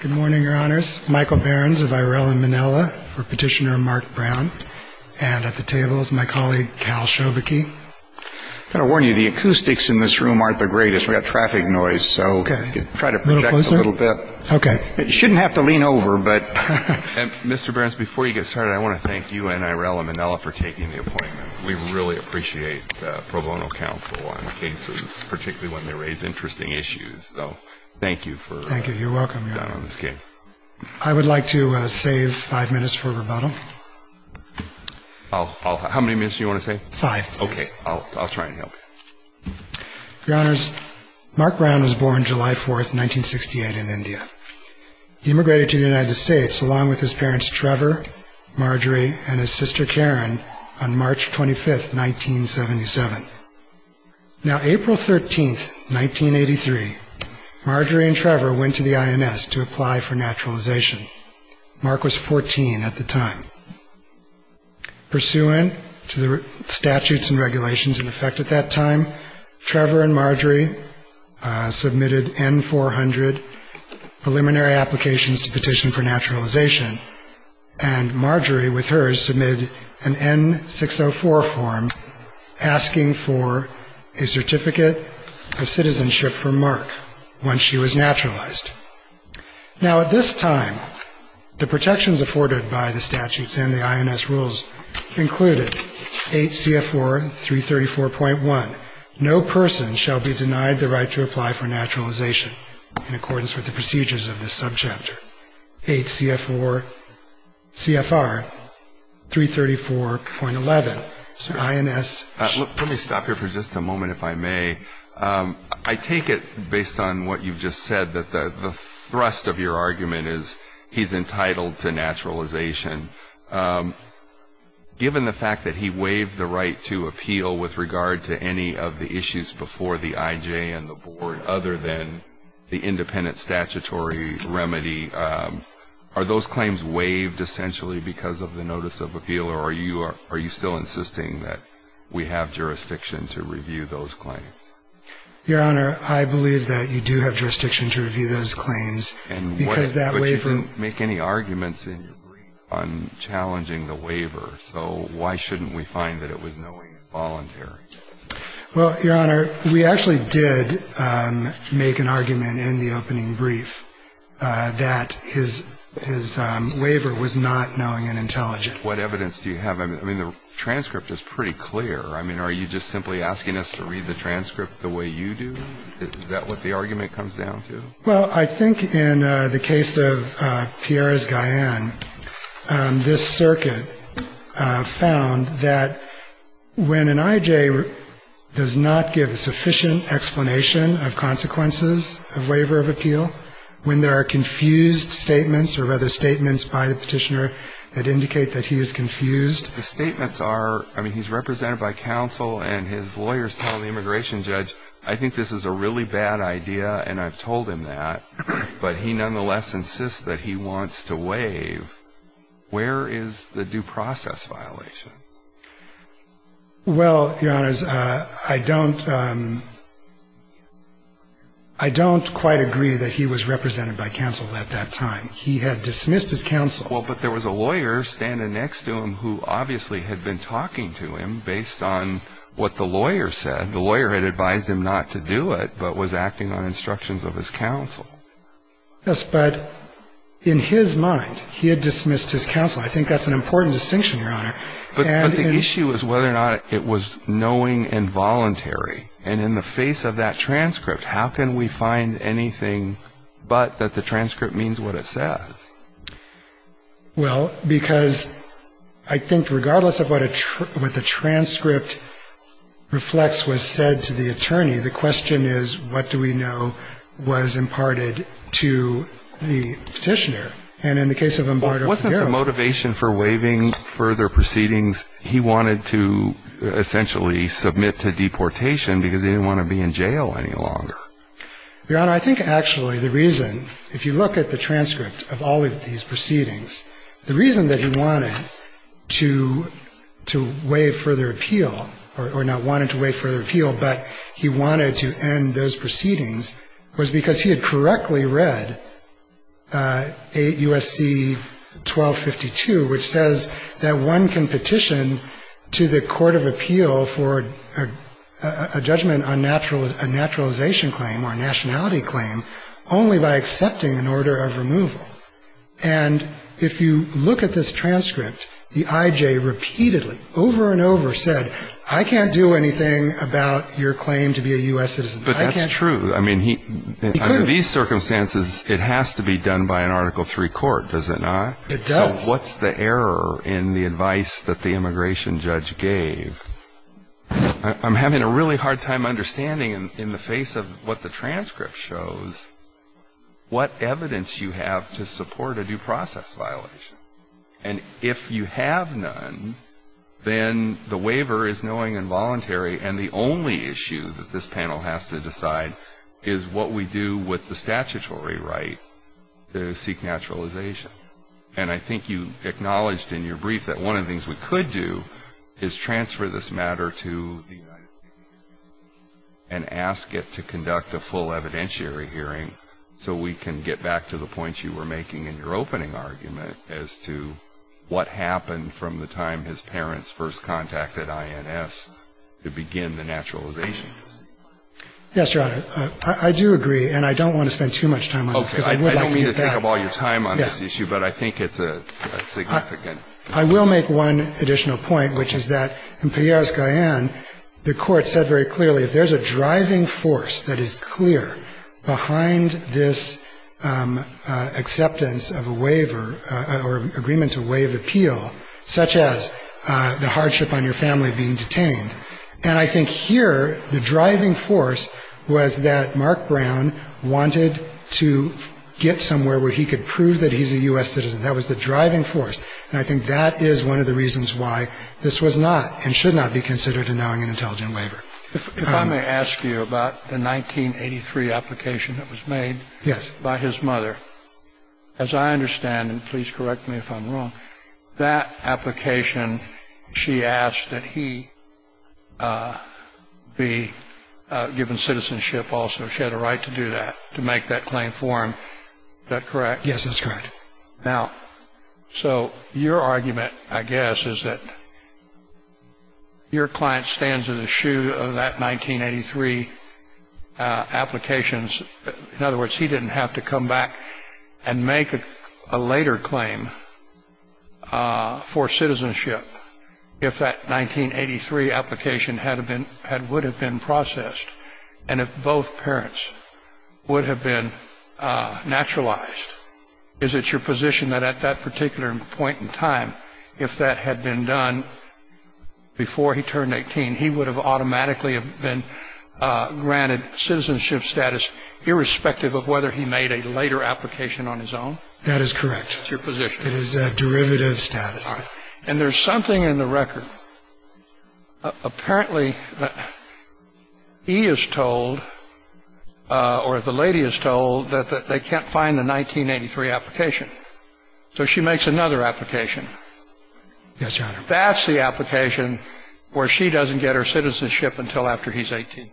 Good morning, your honors. Michael Behrens of IRL in Manila for Petitioner Mark Brown. And at the table is my colleague, Cal Schovakie. I've got to warn you, the acoustics in this room aren't the greatest. We've got traffic noise, so try to project a little bit. Okay. You shouldn't have to lean over, but... Mr. Behrens, before you get started, I want to thank you and IRL in Manila for taking the appointment. We really appreciate the pro bono counsel on cases, particularly when they raise interesting issues. So thank you for being on this case. Thank you. You're welcome, your honor. I would like to save five minutes for rebuttal. How many minutes do you want to save? Five minutes. Okay. I'll try and help. Your honors, Mark Brown was born July 4, 1968 in India. He immigrated to the United States along with his parents, Trevor, Marjorie, and his sister, Karen, on March 25, 1977. Now, April 13, 1983, Marjorie and Trevor went to the INS to apply for naturalization. Mark was 14 at the time. Pursuant to the statutes and regulations in effect at that time, Trevor and Marjorie submitted N-400 preliminary applications to petition for naturalization, and Marjorie with hers submitted an N-604 form asking for a certificate of citizenship from Mark once she was naturalized. Now, at this time, the protections afforded by the statutes and the INS rules included 8 CFR 334.1, no person shall be denied the right to apply for naturalization in accordance with the procedures of this subchapter. 8 CFR 334.11, INS. Let me stop here for just a moment, if I may. I take it, based on what you've just said, that the thrust of your argument is he's entitled to naturalization. Given the fact that he waived the right to appeal with regard to any of the issues before the IJ and the board, other than the independent statutory remedy, are those claims waived essentially because of the notice of appeal, or are you still insisting that we have jurisdiction to review those claims? Your Honor, I believe that you do have jurisdiction to review those claims, because that waiver... But you didn't make any arguments in your brief on challenging the waiver, so why shouldn't we find that it was knowingly voluntary? Well, Your Honor, we actually did make an argument in the opening brief that his waiver was not knowing and intelligent. What evidence do you have? I mean, the transcript is pretty clear. I mean, are you just simply asking us to read the transcript the way you do? Is that what the argument comes down to? Well, I think in the case of Pierres-Guyen, this circuit found that when an IJ does not give sufficient explanation of consequences of waiver of appeal, when there are confused statements, or rather statements by the petitioner that indicate that he is confused... The statements are, I mean, he's represented by counsel, and his lawyers tell the immigration judge, I think this is a really bad idea, and I've told him that, but he nonetheless insists that he wants to waive. Where is the due process violation? Well, Your Honors, I don't quite agree that he was represented by counsel at that time. He had dismissed his counsel. Well, but there was a lawyer standing next to him who obviously had been talking to him based on what the lawyer said. The lawyer had advised him not to do it, but was acting on instructions of his counsel. Yes, but in his mind, he had dismissed his counsel. I think that's an important distinction, Your Honor. But the issue is whether or not it was knowing and voluntary. And in the face of that transcript, how can we find anything but that the transcript means what it says? Well, because I think regardless of what the transcript reflects was said to the attorney, the question is what do we know was imparted to the petitioner. And in the case of Humbardo Figueroa... Wasn't the motivation for waiving further proceedings, he wanted to essentially submit to deportation because he didn't want to be in jail any longer? Your Honor, I think actually the reason, if you look at the transcript of all of these proceedings, the reason that he wanted to waive further appeal, or not wanted to waive further appeal, but he wanted to end those proceedings, was because he had correctly read 8 U.S.C. 1252, which says that one can petition to the court of appeal for a judgment on a naturalization claim or a nationality claim only by accepting an order of removal. And if you look at this transcript, the I.J. repeatedly, over and over, said, I can't do anything about your claim to be a U.S. citizen. But that's true. Under these circumstances, it has to be done by an Article III court, does it not? It does. So what's the error in the advice that the immigration judge gave? I'm having a really hard time understanding, in the face of what the transcript shows, what evidence you have to support a due process violation. And if you have none, then the waiver is knowing and voluntary, and the only issue that this panel has to decide is what we do with the statutory right to seek naturalization. And I think you acknowledged in your brief that one of the things we could do is transfer this matter to the United States Immigration Commission and ask it to conduct a full evidentiary hearing so we can get back to the points you were making in your opening argument as to what happened from the time his parents first contacted INS to begin the naturalization. Yes, Your Honor. I do agree, and I don't want to spend too much time on this. I don't mean to take up all your time on this issue, but I think it's a significant issue. I will make one additional point, which is that in Pierres-Guyen, the Court said very clearly if there's a driving force that is clear behind this acceptance of a waiver or agreement to waive appeal, such as the hardship on your family being detained, and I think here the driving force was that Mark Brown wanted to get somewhere where he could prove that he's a U.S. citizen. That was the driving force, and I think that is one of the reasons why this was not and should not be considered a knowing and intelligent waiver. If I may ask you about the 1983 application that was made by his mother, as I understand, and please correct me if I'm wrong, that application she asked that he be given citizenship also. She had a right to do that, to make that claim for him. Is that correct? Yes, that's correct. Now, so your argument, I guess, is that your client stands in the shoe of that 1983 applications. In other words, he didn't have to come back and make a later claim for citizenship if that 1983 application would have been processed and if both parents would have been naturalized. Is it your position that at that particular point in time, if that had been done before he turned 18, he would have automatically been granted citizenship status irrespective of whether he made a later application on his own? That is correct. That's your position. It is a derivative status. All right. And there's something in the record. Apparently, he is told or the lady is told that they can't find the 1983 application. So she makes another application. Yes, Your Honor. That's the application where she doesn't get her citizenship until after he's 18.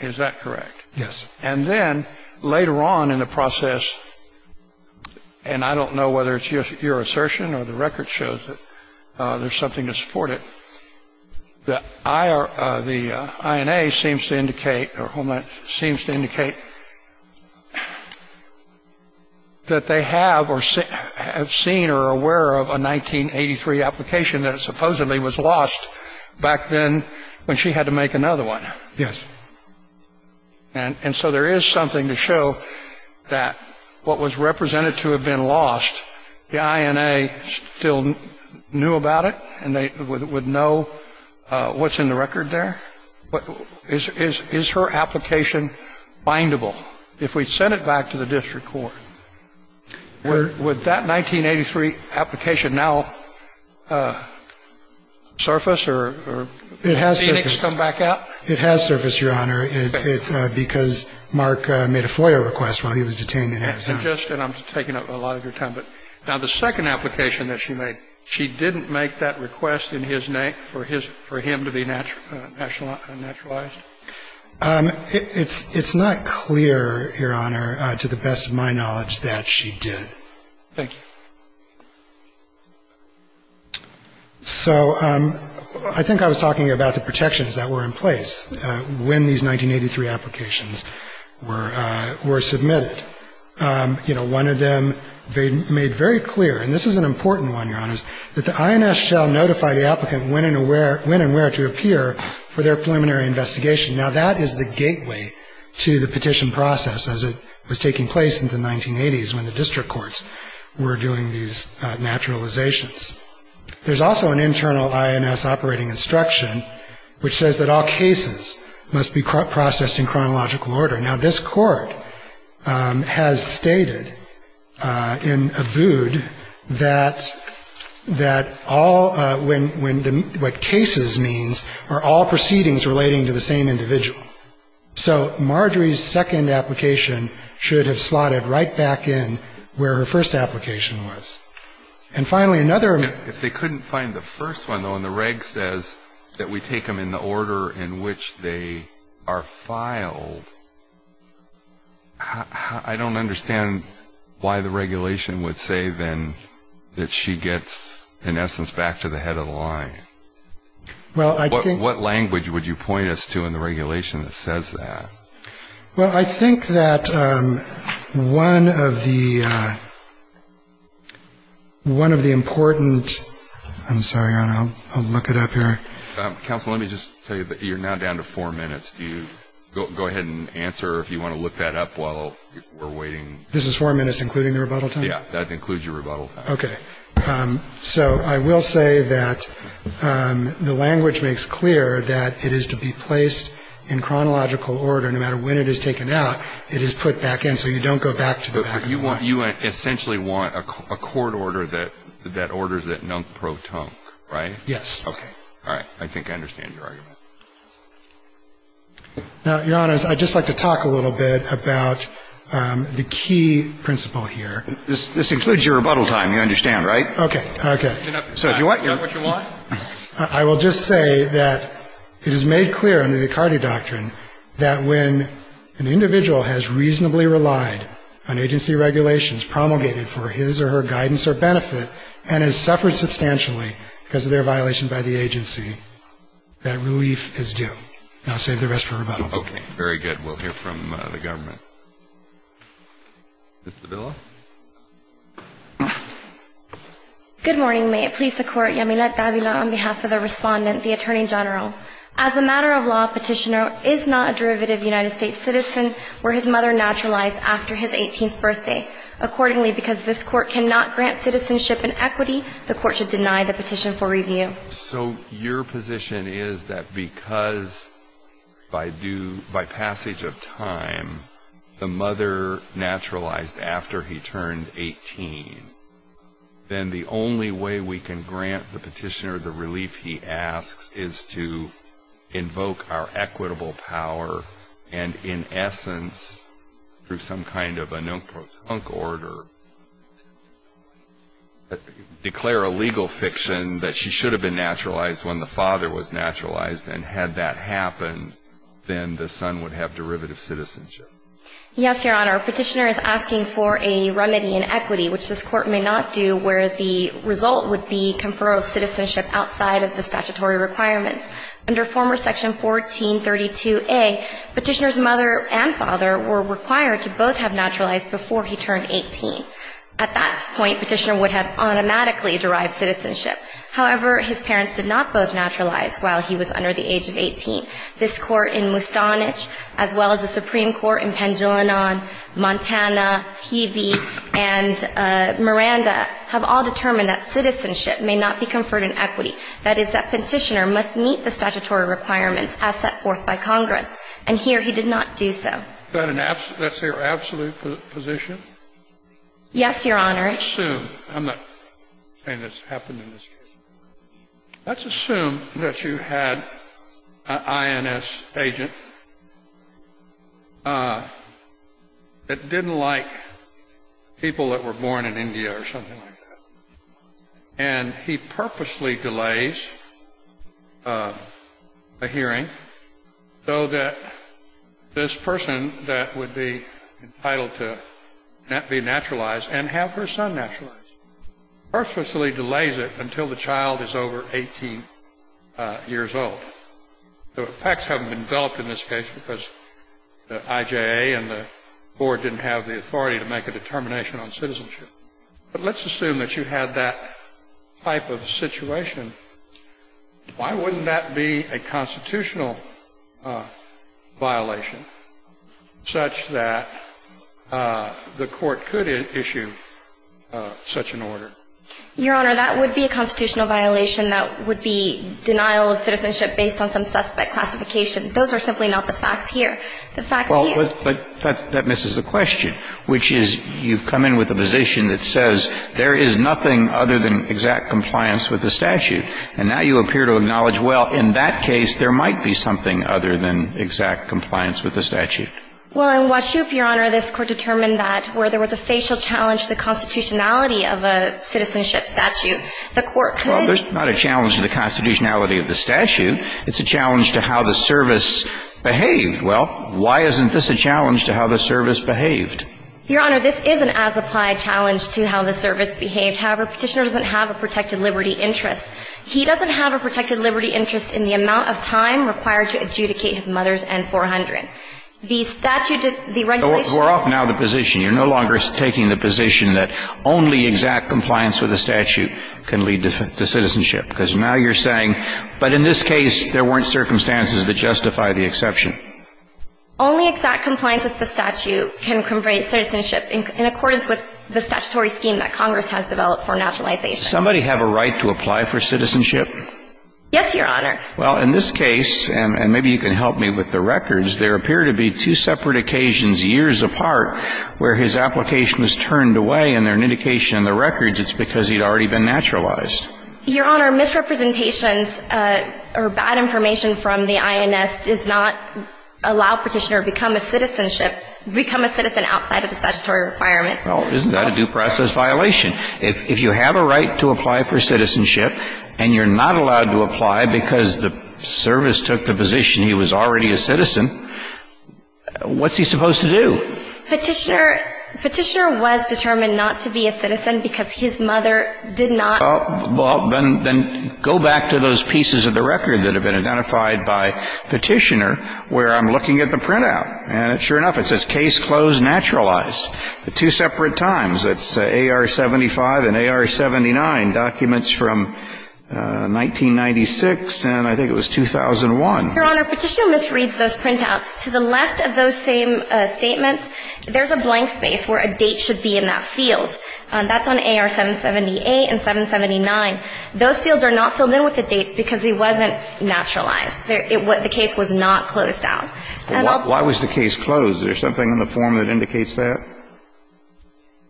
Is that correct? Yes. And then later on in the process, and I don't know whether it's your assertion or the record shows that there's something to support it, the INA seems to indicate that they have seen or are aware of a 1983 application that supposedly was lost back then when she had to make another one. Yes. And so there is something to show that what was represented to have been lost, the INA still knew about it, and they would know what's in the record there. But is her application bindable? If we sent it back to the district court, would that 1983 application now surface or Phoenix come back out? It has surfaced, Your Honor, because Mark made a FOIA request while he was detained in Arizona. And I'm taking up a lot of your time. Now, the second application that she made, she didn't make that request in his name for him to be naturalized? It's not clear, Your Honor, to the best of my knowledge, that she did. Thank you. So I think I was talking about the protections that were in place when these 1983 applications were submitted. You know, one of them they made very clear, and this is an important one, Your Honors, that the INS shall notify the applicant when and where to appear for their preliminary investigation. Now, that is the gateway to the petition process as it was taking place in the 1980s when the district courts were doing these naturalizations. There's also an internal INS operating instruction which says that all cases must be processed in chronological order. Now, this Court has stated in Abood that all, when, what cases means are all proceedings relating to the same individual. So Marjorie's second application should have slotted right back in where her first application was. And finally, another. If they couldn't find the first one, though, and the reg says that we take them in the order in which they are filed, I don't understand why the regulation would say then that she gets, in essence, back to the head of the line. What language would you point us to in the regulation that says that? Well, I think that one of the important ‑‑ I'm sorry, Your Honor, I'll look it up here. Counsel, let me just tell you that you're now down to four minutes. Go ahead and answer if you want to look that up while we're waiting. This is four minutes including the rebuttal time? Yeah, that includes your rebuttal time. Okay. So I will say that the language makes clear that it is to be placed in chronological order. No matter when it is taken out, it is put back in. So you don't go back to the back of the line. But you essentially want a court order that orders that nunk pro tunk, right? Yes. Okay. All right. I think I understand your argument. Now, Your Honor, I'd just like to talk a little bit about the key principle here. This includes your rebuttal time, you understand, right? Okay. Okay. So if you want ‑‑ Is that what you want? I will just say that it is made clear under the Icardi Doctrine that when an individual has reasonably relied on agency regulations promulgated for his or her guidance or benefit and has suffered substantially because of their violation by the agency, that relief is due. And I'll save the rest for rebuttal. Okay. Very good. We'll hear from the government. Ms. Davila. Good morning. May it please the Court, Yamile Davila on behalf of the Respondent, the Attorney General. As a matter of law, a petitioner is not a derivative United States citizen where his mother naturalized after his 18th birthday. Accordingly, because this Court cannot grant citizenship and equity, the Court should deny the petition for review. So your position is that because by passage of time the mother naturalized after he turned 18, then the only way we can grant the petitioner the relief he asks is to invoke our equitable power and, in essence, through some kind of a non-concord or declare a legal fiction that she should have been naturalized when the father was naturalized. And had that happened, then the son would have derivative citizenship. Yes, Your Honor. A petitioner is asking for a remedy in equity, which this Court may not do, where the result would be conferral of citizenship outside of the statutory requirements. Under former Section 1432a, petitioner's mother and father were required to both have naturalized before he turned 18. At that point, petitioner would have automatically derived citizenship. However, his parents did not both naturalize while he was under the age of 18. This Court in Mustanich, as well as the Supreme Court in Pendulina, Montana, Hebe, and Miranda, have all determined that citizenship may not be conferred in equity. That is, that petitioner must meet the statutory requirements as set forth by Congress. And here he did not do so. That's your absolute position? Yes, Your Honor. Let's assume. I'm not saying this happened in this case. Let's assume that you had an INS agent that didn't like people that were born in India or something like that. And he purposely delays a hearing so that this person that would be entitled to be naturalized and have her son naturalized, purposely delays it until the child is over 18 years old. The effects haven't been developed in this case because the IJA and the board didn't have the authority to make a determination on citizenship. But let's assume that you had that type of situation. Why wouldn't that be a constitutional violation such that the Court could issue such an order? Your Honor, that would be a constitutional violation. That would be denial of citizenship based on some suspect classification. Those are simply not the facts here. The facts here are the facts. But that misses the question, which is you've come in with a position that says there is nothing other than exact compliance with the statute. And now you appear to acknowledge, well, in that case, there might be something other than exact compliance with the statute. Well, in Washoop, Your Honor, this Court determined that where there was a facial challenge to the constitutionality of a citizenship statute, the Court could. Well, there's not a challenge to the constitutionality of the statute. It's a challenge to how the service behaved. Well, why isn't this a challenge to how the service behaved? Your Honor, this is an as-applied challenge to how the service behaved. However, Petitioner doesn't have a protected liberty interest. He doesn't have a protected liberty interest in the amount of time required to adjudicate his mother's N-400. The statute did the regulation. We're off now the position. You're no longer taking the position that only exact compliance with the statute can lead to citizenship, because now you're saying, but in this case, there weren't circumstances that justify the exception. Only exact compliance with the statute can convey citizenship in accordance with the statutory scheme that Congress has developed for nationalization. Does somebody have a right to apply for citizenship? Yes, Your Honor. Well, in this case, and maybe you can help me with the records, there appear to be two separate occasions years apart where his application was turned away, and there's an indication in the records it's because he'd already been naturalized. Your Honor, misrepresentations or bad information from the INS does not allow Petitioner to become a citizenship, become a citizen outside of the statutory requirements. Well, isn't that a due process violation? If you have a right to apply for citizenship and you're not allowed to apply because the service took the position he was already a citizen, what's he supposed to do? Petitioner was determined not to be a citizen because his mother did not. Well, then go back to those pieces of the record that have been identified by Petitioner where I'm looking at the printout. And sure enough, it says case closed naturalized. The two separate times, it's AR-75 and AR-79, documents from 1996 and I think it was 2001. Your Honor, Petitioner misreads those printouts. To the left of those same statements, there's a blank space where a date should be in that field. That's on AR-778 and 779. Those fields are not filled in with the dates because he wasn't naturalized. The case was not closed out. Why was the case closed? Is there something in the form that indicates that?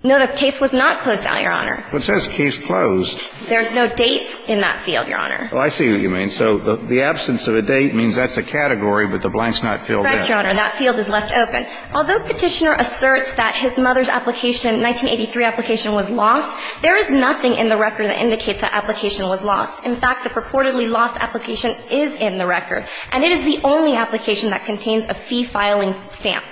No, the case was not closed out, Your Honor. But it says case closed. There's no date in that field, Your Honor. Oh, I see what you mean. So the absence of a date means that's a category, but the blank's not filled in. Correct, Your Honor. That field is left open. Although Petitioner asserts that his mother's application, 1983 application, was lost, there is nothing in the record that indicates that application was lost. In fact, the purportedly lost application is in the record, and it is the only application that contains a fee filing stamp.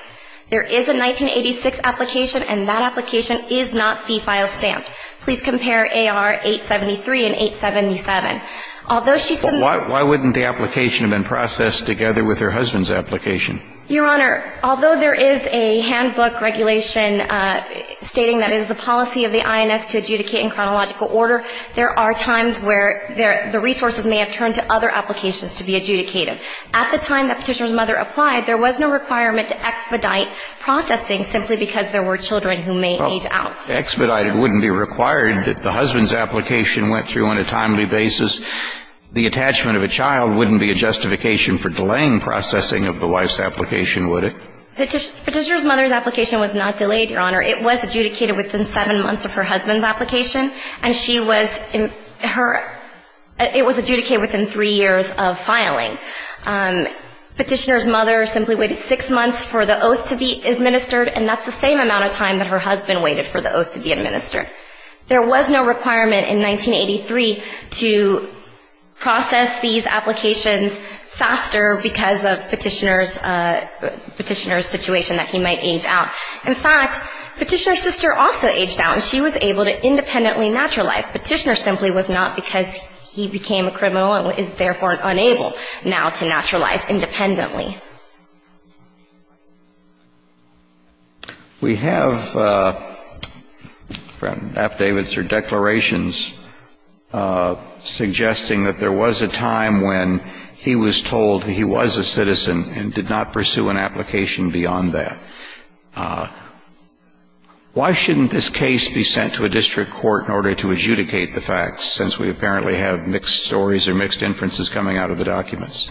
There is a 1986 application, and that application is not fee file stamped. Please compare AR-873 and 877. Although she said that the application was processed together with her husband's application. Your Honor, although there is a handbook regulation stating that it is the policy of the INS to adjudicate in chronological order, there are times where the resources may have turned to other applications to be adjudicated. At the time that Petitioner's mother applied, there was no requirement to expedite processing simply because there were children who may age out. Well, expedited wouldn't be required if the husband's application went through on a timely basis. The attachment of a child wouldn't be a justification for delaying processing of the wife's application, would it? Petitioner's mother's application was not delayed, Your Honor. It was adjudicated within seven months of her husband's application, and she was in her, it was adjudicated within three years of filing. Petitioner's mother simply waited six months for the oath to be administered, and that's the same amount of time that her husband waited for the oath to be administered. There was no requirement in 1983 to process these applications faster because of Petitioner's, Petitioner's situation, that he might age out. In fact, Petitioner's sister also aged out, and she was able to independently naturalize. Petitioner simply was not because he became a criminal and is therefore unable now to naturalize independently. We have from Naftavitzer declarations suggesting that there was a time when he was a citizen and did not pursue an application beyond that. Why shouldn't this case be sent to a district court in order to adjudicate the facts since we apparently have mixed stories or mixed inferences coming out of the documents?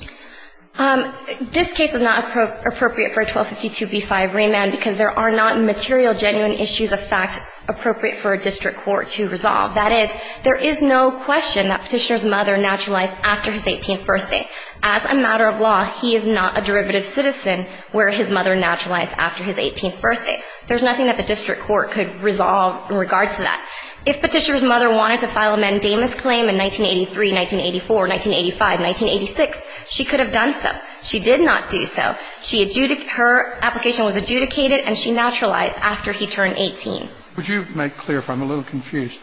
This case is not appropriate for a 1252b-5 remand because there are not material genuine issues of fact appropriate for a district court to resolve. That is, there is no question that Petitioner's mother naturalized after his 18th birthday. As a matter of law, he is not a derivative citizen where his mother naturalized after his 18th birthday. There's nothing that the district court could resolve in regards to that. If Petitioner's mother wanted to file a mandamus claim in 1983, 1984, 1985, 1986, she could have done so. She did not do so. She adjudicated her application was adjudicated, and she naturalized after he turned 18. Would you make clear if I'm a little confused?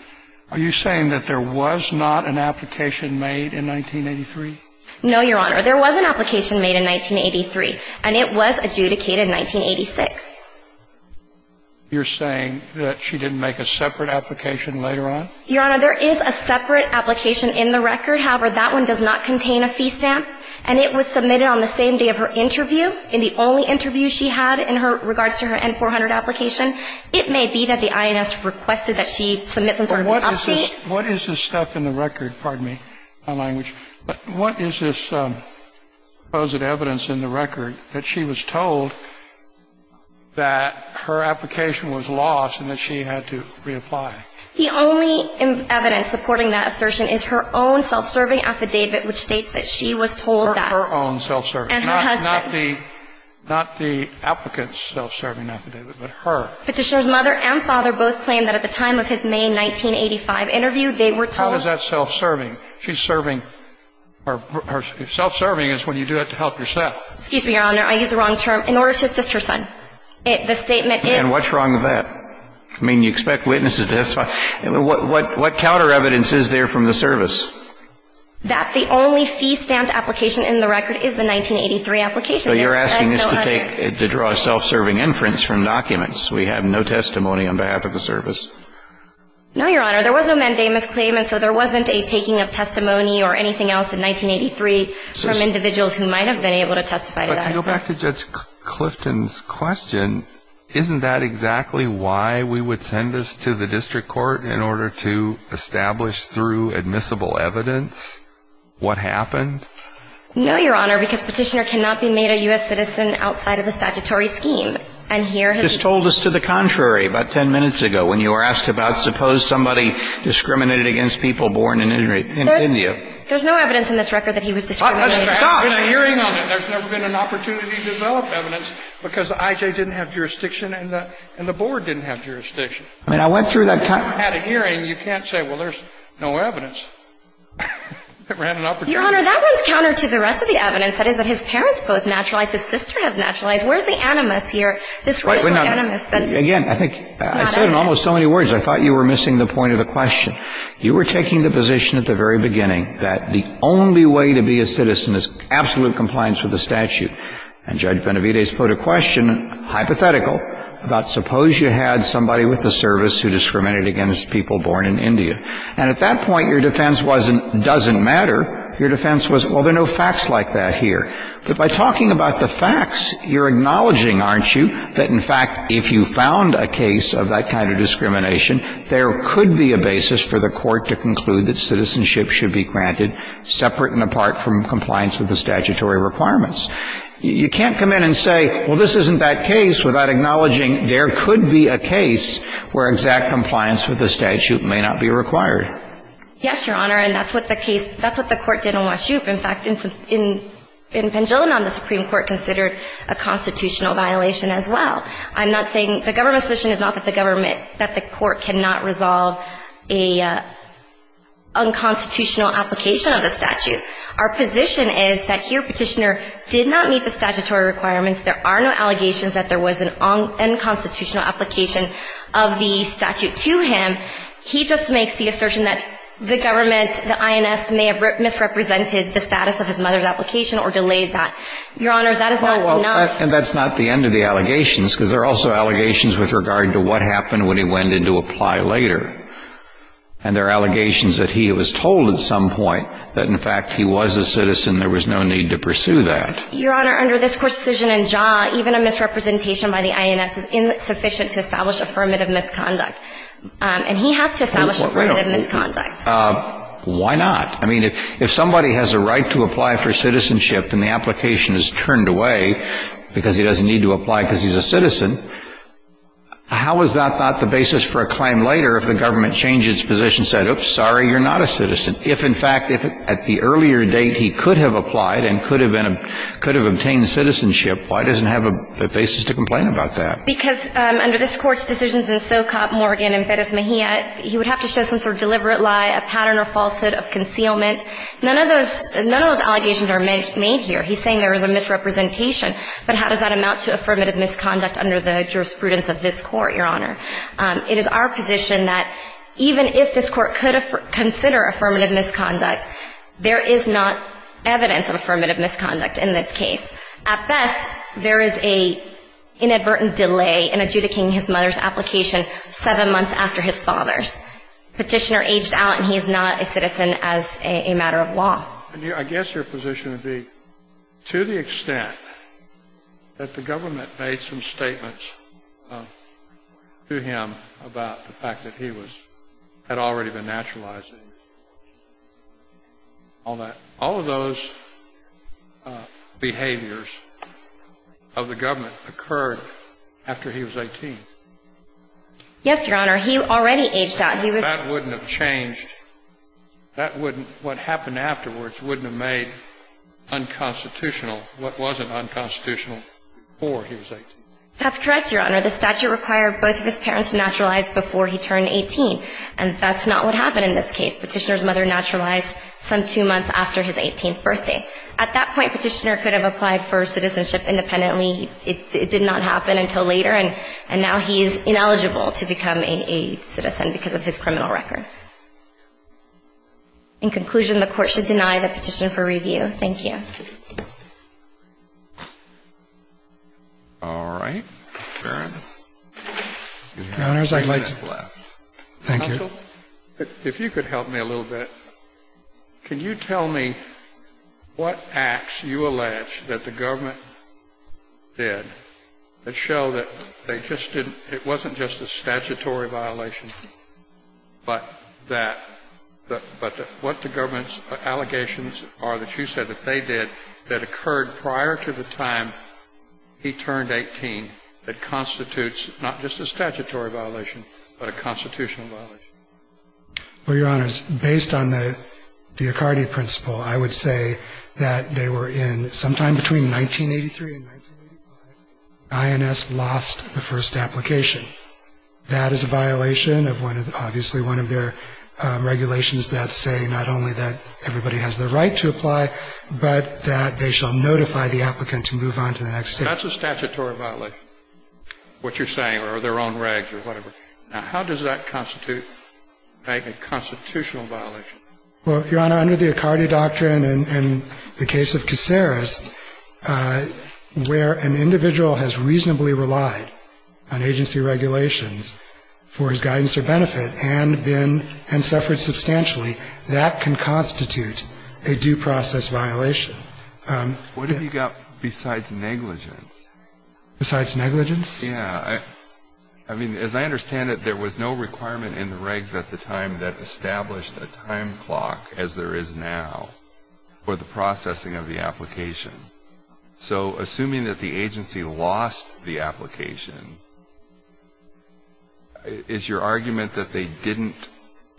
Are you saying that there was not an application made in 1983? No, Your Honor. There was an application made in 1983, and it was adjudicated in 1986. You're saying that she didn't make a separate application later on? Your Honor, there is a separate application in the record. However, that one does not contain a fee stamp, and it was submitted on the same day of her interview in the only interview she had in her regards to her N-400 application. It may be that the INS requested that she submit some sort of update. What is this stuff in the record? Pardon me, my language. What is this evidence in the record that she was told that her application was lost and that she had to reapply? The only evidence supporting that assertion is her own self-serving affidavit, which states that she was told that. Her own self-serving. And her husband. Not the applicant's self-serving affidavit, but her. Petitioner's mother and father both claim that at the time of his May 1985 interview, they were told. How is that self-serving? She's serving. Self-serving is when you do it to help yourself. Excuse me, Your Honor. I used the wrong term. In order to assist her son. The statement is. And what's wrong with that? I mean, you expect witnesses to testify. What counter evidence is there from the service? That the only fee stamp application in the record is the 1983 application. So you're asking us to draw a self-serving inference from documents. We have no testimony on behalf of the service. No, Your Honor. There was no mandate misclaimance, so there wasn't a taking of testimony or anything else in 1983 from individuals who might have been able to testify to that. But to go back to Judge Clifton's question, isn't that exactly why we would send this to the district court in order to establish through admissible evidence what happened? No, Your Honor, because Petitioner cannot be made a U.S. citizen outside of the statutory scheme. And here has been. You just told us to the contrary about ten minutes ago when you were asked about suppose somebody discriminated against people born in India. There's no evidence in this record that he was discriminated against. Stop. There's never been a hearing on it. There's never been an opportunity to develop evidence because I.J. didn't have jurisdiction and the board didn't have jurisdiction. I mean, I went through that. If you had a hearing, you can't say, well, there's no evidence. It ran an opportunity. Your Honor, that runs counter to the rest of the evidence. That is that his parents both naturalized. His sister has naturalized. Where's the animus here? This rational animus that is not evidence. Again, I think I said in almost so many words I thought you were missing the point of the question. You were taking the position at the very beginning that the only way to be a citizen is absolute compliance with the statute. And Judge Benavidez put a question, hypothetical, about suppose you had somebody with the service who discriminated against people born in India. And at that point, your defense wasn't, doesn't matter. Your defense was, well, there are no facts like that here. But by talking about the facts, you're acknowledging, aren't you, that, in fact, if you found a case of that kind of discrimination, there could be a basis for the Court to conclude that citizenship should be granted separate and apart from compliance with the statutory requirements. You can't come in and say, well, this isn't that case without acknowledging there could be a case where exact compliance with the statute may not be required. Yes, Your Honor. And that's what the case, that's what the Court did in Washupe. In fact, in Pendulum, the Supreme Court considered a constitutional violation as well. I'm not saying, the government's position is not that the government, that the Court cannot resolve a unconstitutional application of the statute. Our position is that here Petitioner did not meet the statutory requirements. There are no allegations that there was an unconstitutional application of the statute to him. He just makes the assertion that the government, the INS, may have misrepresented the status of his mother's application or delayed that. Your Honor, that is not enough. And that's not the end of the allegations, because there are also allegations with regard to what happened when he went in to apply later. And there are allegations that he was told at some point that, in fact, he was a citizen. There was no need to pursue that. Your Honor, under this Court's decision in Jaw, even a misrepresentation by the INS is insufficient to establish affirmative misconduct. And he has to establish affirmative misconduct. Why not? I mean, if somebody has a right to apply for citizenship and the application is turned away because he doesn't need to apply because he's a citizen, how is that not the basis for a claim later if the government changed its position, said, oops, sorry, you're not a citizen? If, in fact, at the earlier date he could have applied and could have obtained citizenship, why doesn't he have a basis to complain about that? Because under this Court's decisions in Socop, Morgan, and Perez Mejia, he would have to show some sort of deliberate lie, a pattern of falsehood, of concealment. None of those allegations are made here. He's saying there was a misrepresentation. But how does that amount to affirmative misconduct under the jurisprudence of this Court, Your Honor? It is our position that even if this Court could consider affirmative misconduct, there is not evidence of affirmative misconduct in this case. At best, there is an inadvertent delay in adjudicating his mother's application seven months after his father's. Petitioner aged out and he is not a citizen as a matter of law. And I guess your position would be, to the extent that the government made some to him about the fact that he had already been naturalized, all of those behaviors of the government occurred after he was 18. Yes, Your Honor. He already aged out. That wouldn't have changed. That wouldn't – what happened afterwards wouldn't have made unconstitutional what wasn't unconstitutional before he was 18. That's correct, Your Honor. The statute required both of his parents to naturalize before he turned 18. And that's not what happened in this case. Petitioner's mother naturalized some two months after his 18th birthday. At that point, Petitioner could have applied for citizenship independently. It did not happen until later. And now he is ineligible to become a citizen because of his criminal record. In conclusion, the Court should deny the petitioner for review. Thank you. All right. Your Honors, I'd like to follow up. Thank you. Counsel, if you could help me a little bit, can you tell me what acts you allege that the government did that show that they just didn't – it wasn't just a statutory violation, but that – but what the government's allegations are that you said that they did that occurred prior to the time he turned 18 that constitutes not just a statutory violation, but a constitutional violation? Well, Your Honors, based on the DiOccardi principle, I would say that they were in sometime between 1983 and 1985 when INS lost the first application. That is a violation of one of the – obviously one of their regulations that say not only that everybody has the right to apply, but that they shall notify the applicant to move on to the next step. That's a statutory violation, what you're saying, or their own regs or whatever. Now, how does that constitute a constitutional violation? Well, Your Honor, under the DiOccardi doctrine and the case of Caceres, where an individual has reasonably relied on agency regulations for his guidance or benefit and been – and constitute a due process violation. What have you got besides negligence? Besides negligence? Yeah. I mean, as I understand it, there was no requirement in the regs at the time that established a time clock as there is now for the processing of the application. So assuming that the agency lost the application, is your argument that they didn't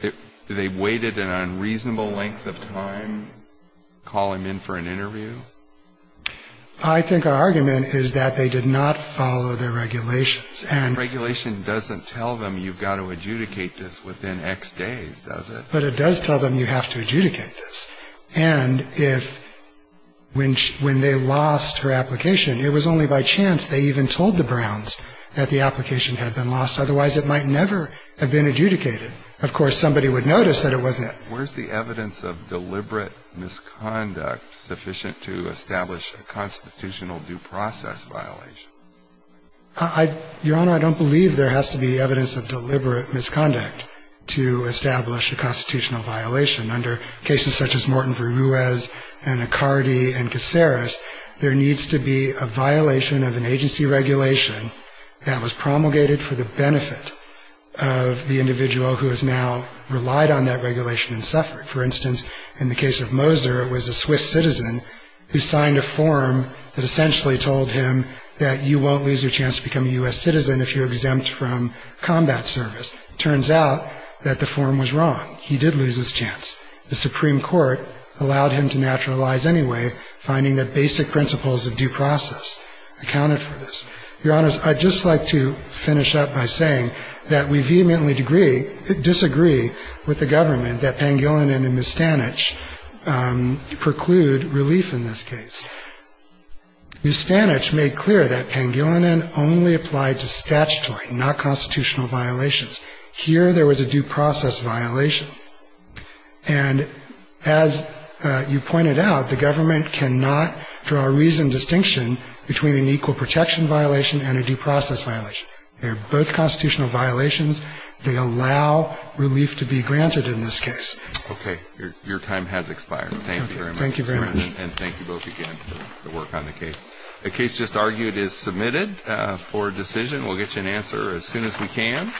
– they waited an unreasonable length of time, call him in for an interview? I think our argument is that they did not follow their regulations. And regulation doesn't tell them you've got to adjudicate this within X days, does it? But it does tell them you have to adjudicate this. And if – when they lost her application, it was only by chance they even told the Browns that the application had been lost. Otherwise, it might never have been adjudicated. Of course, somebody would notice that it wasn't. Where's the evidence of deliberate misconduct sufficient to establish a constitutional due process violation? Your Honor, I don't believe there has to be evidence of deliberate misconduct to establish a constitutional violation. Under cases such as Morton v. Ruiz and Accardi and Caceres, there needs to be a violation of an agency regulation that was promulgated for the benefit of the individual who has now relied on that regulation and suffered. For instance, in the case of Moser, it was a Swiss citizen who signed a form that essentially told him that you won't lose your chance to become a U.S. citizen if you're exempt from combat service. It turns out that the form was wrong. He did lose his chance. The Supreme Court allowed him to naturalize anyway, finding that basic principles of due process accounted for this. Your Honors, I'd just like to finish up by saying that we vehemently disagree with the government that Pangilinan and Mustanich preclude relief in this case. Mustanich made clear that Pangilinan only applied to statutory, not constitutional violations. Here, there was a due process violation. And as you pointed out, the government cannot draw a reasoned distinction between an equal protection violation and a due process violation. They're both constitutional violations. They allow relief to be granted in this case. Okay. Your time has expired. Thank you very much. Thank you very much. And thank you both again for the work on the case. The case just argued is submitted for decision. We'll get you an answer as soon as we can.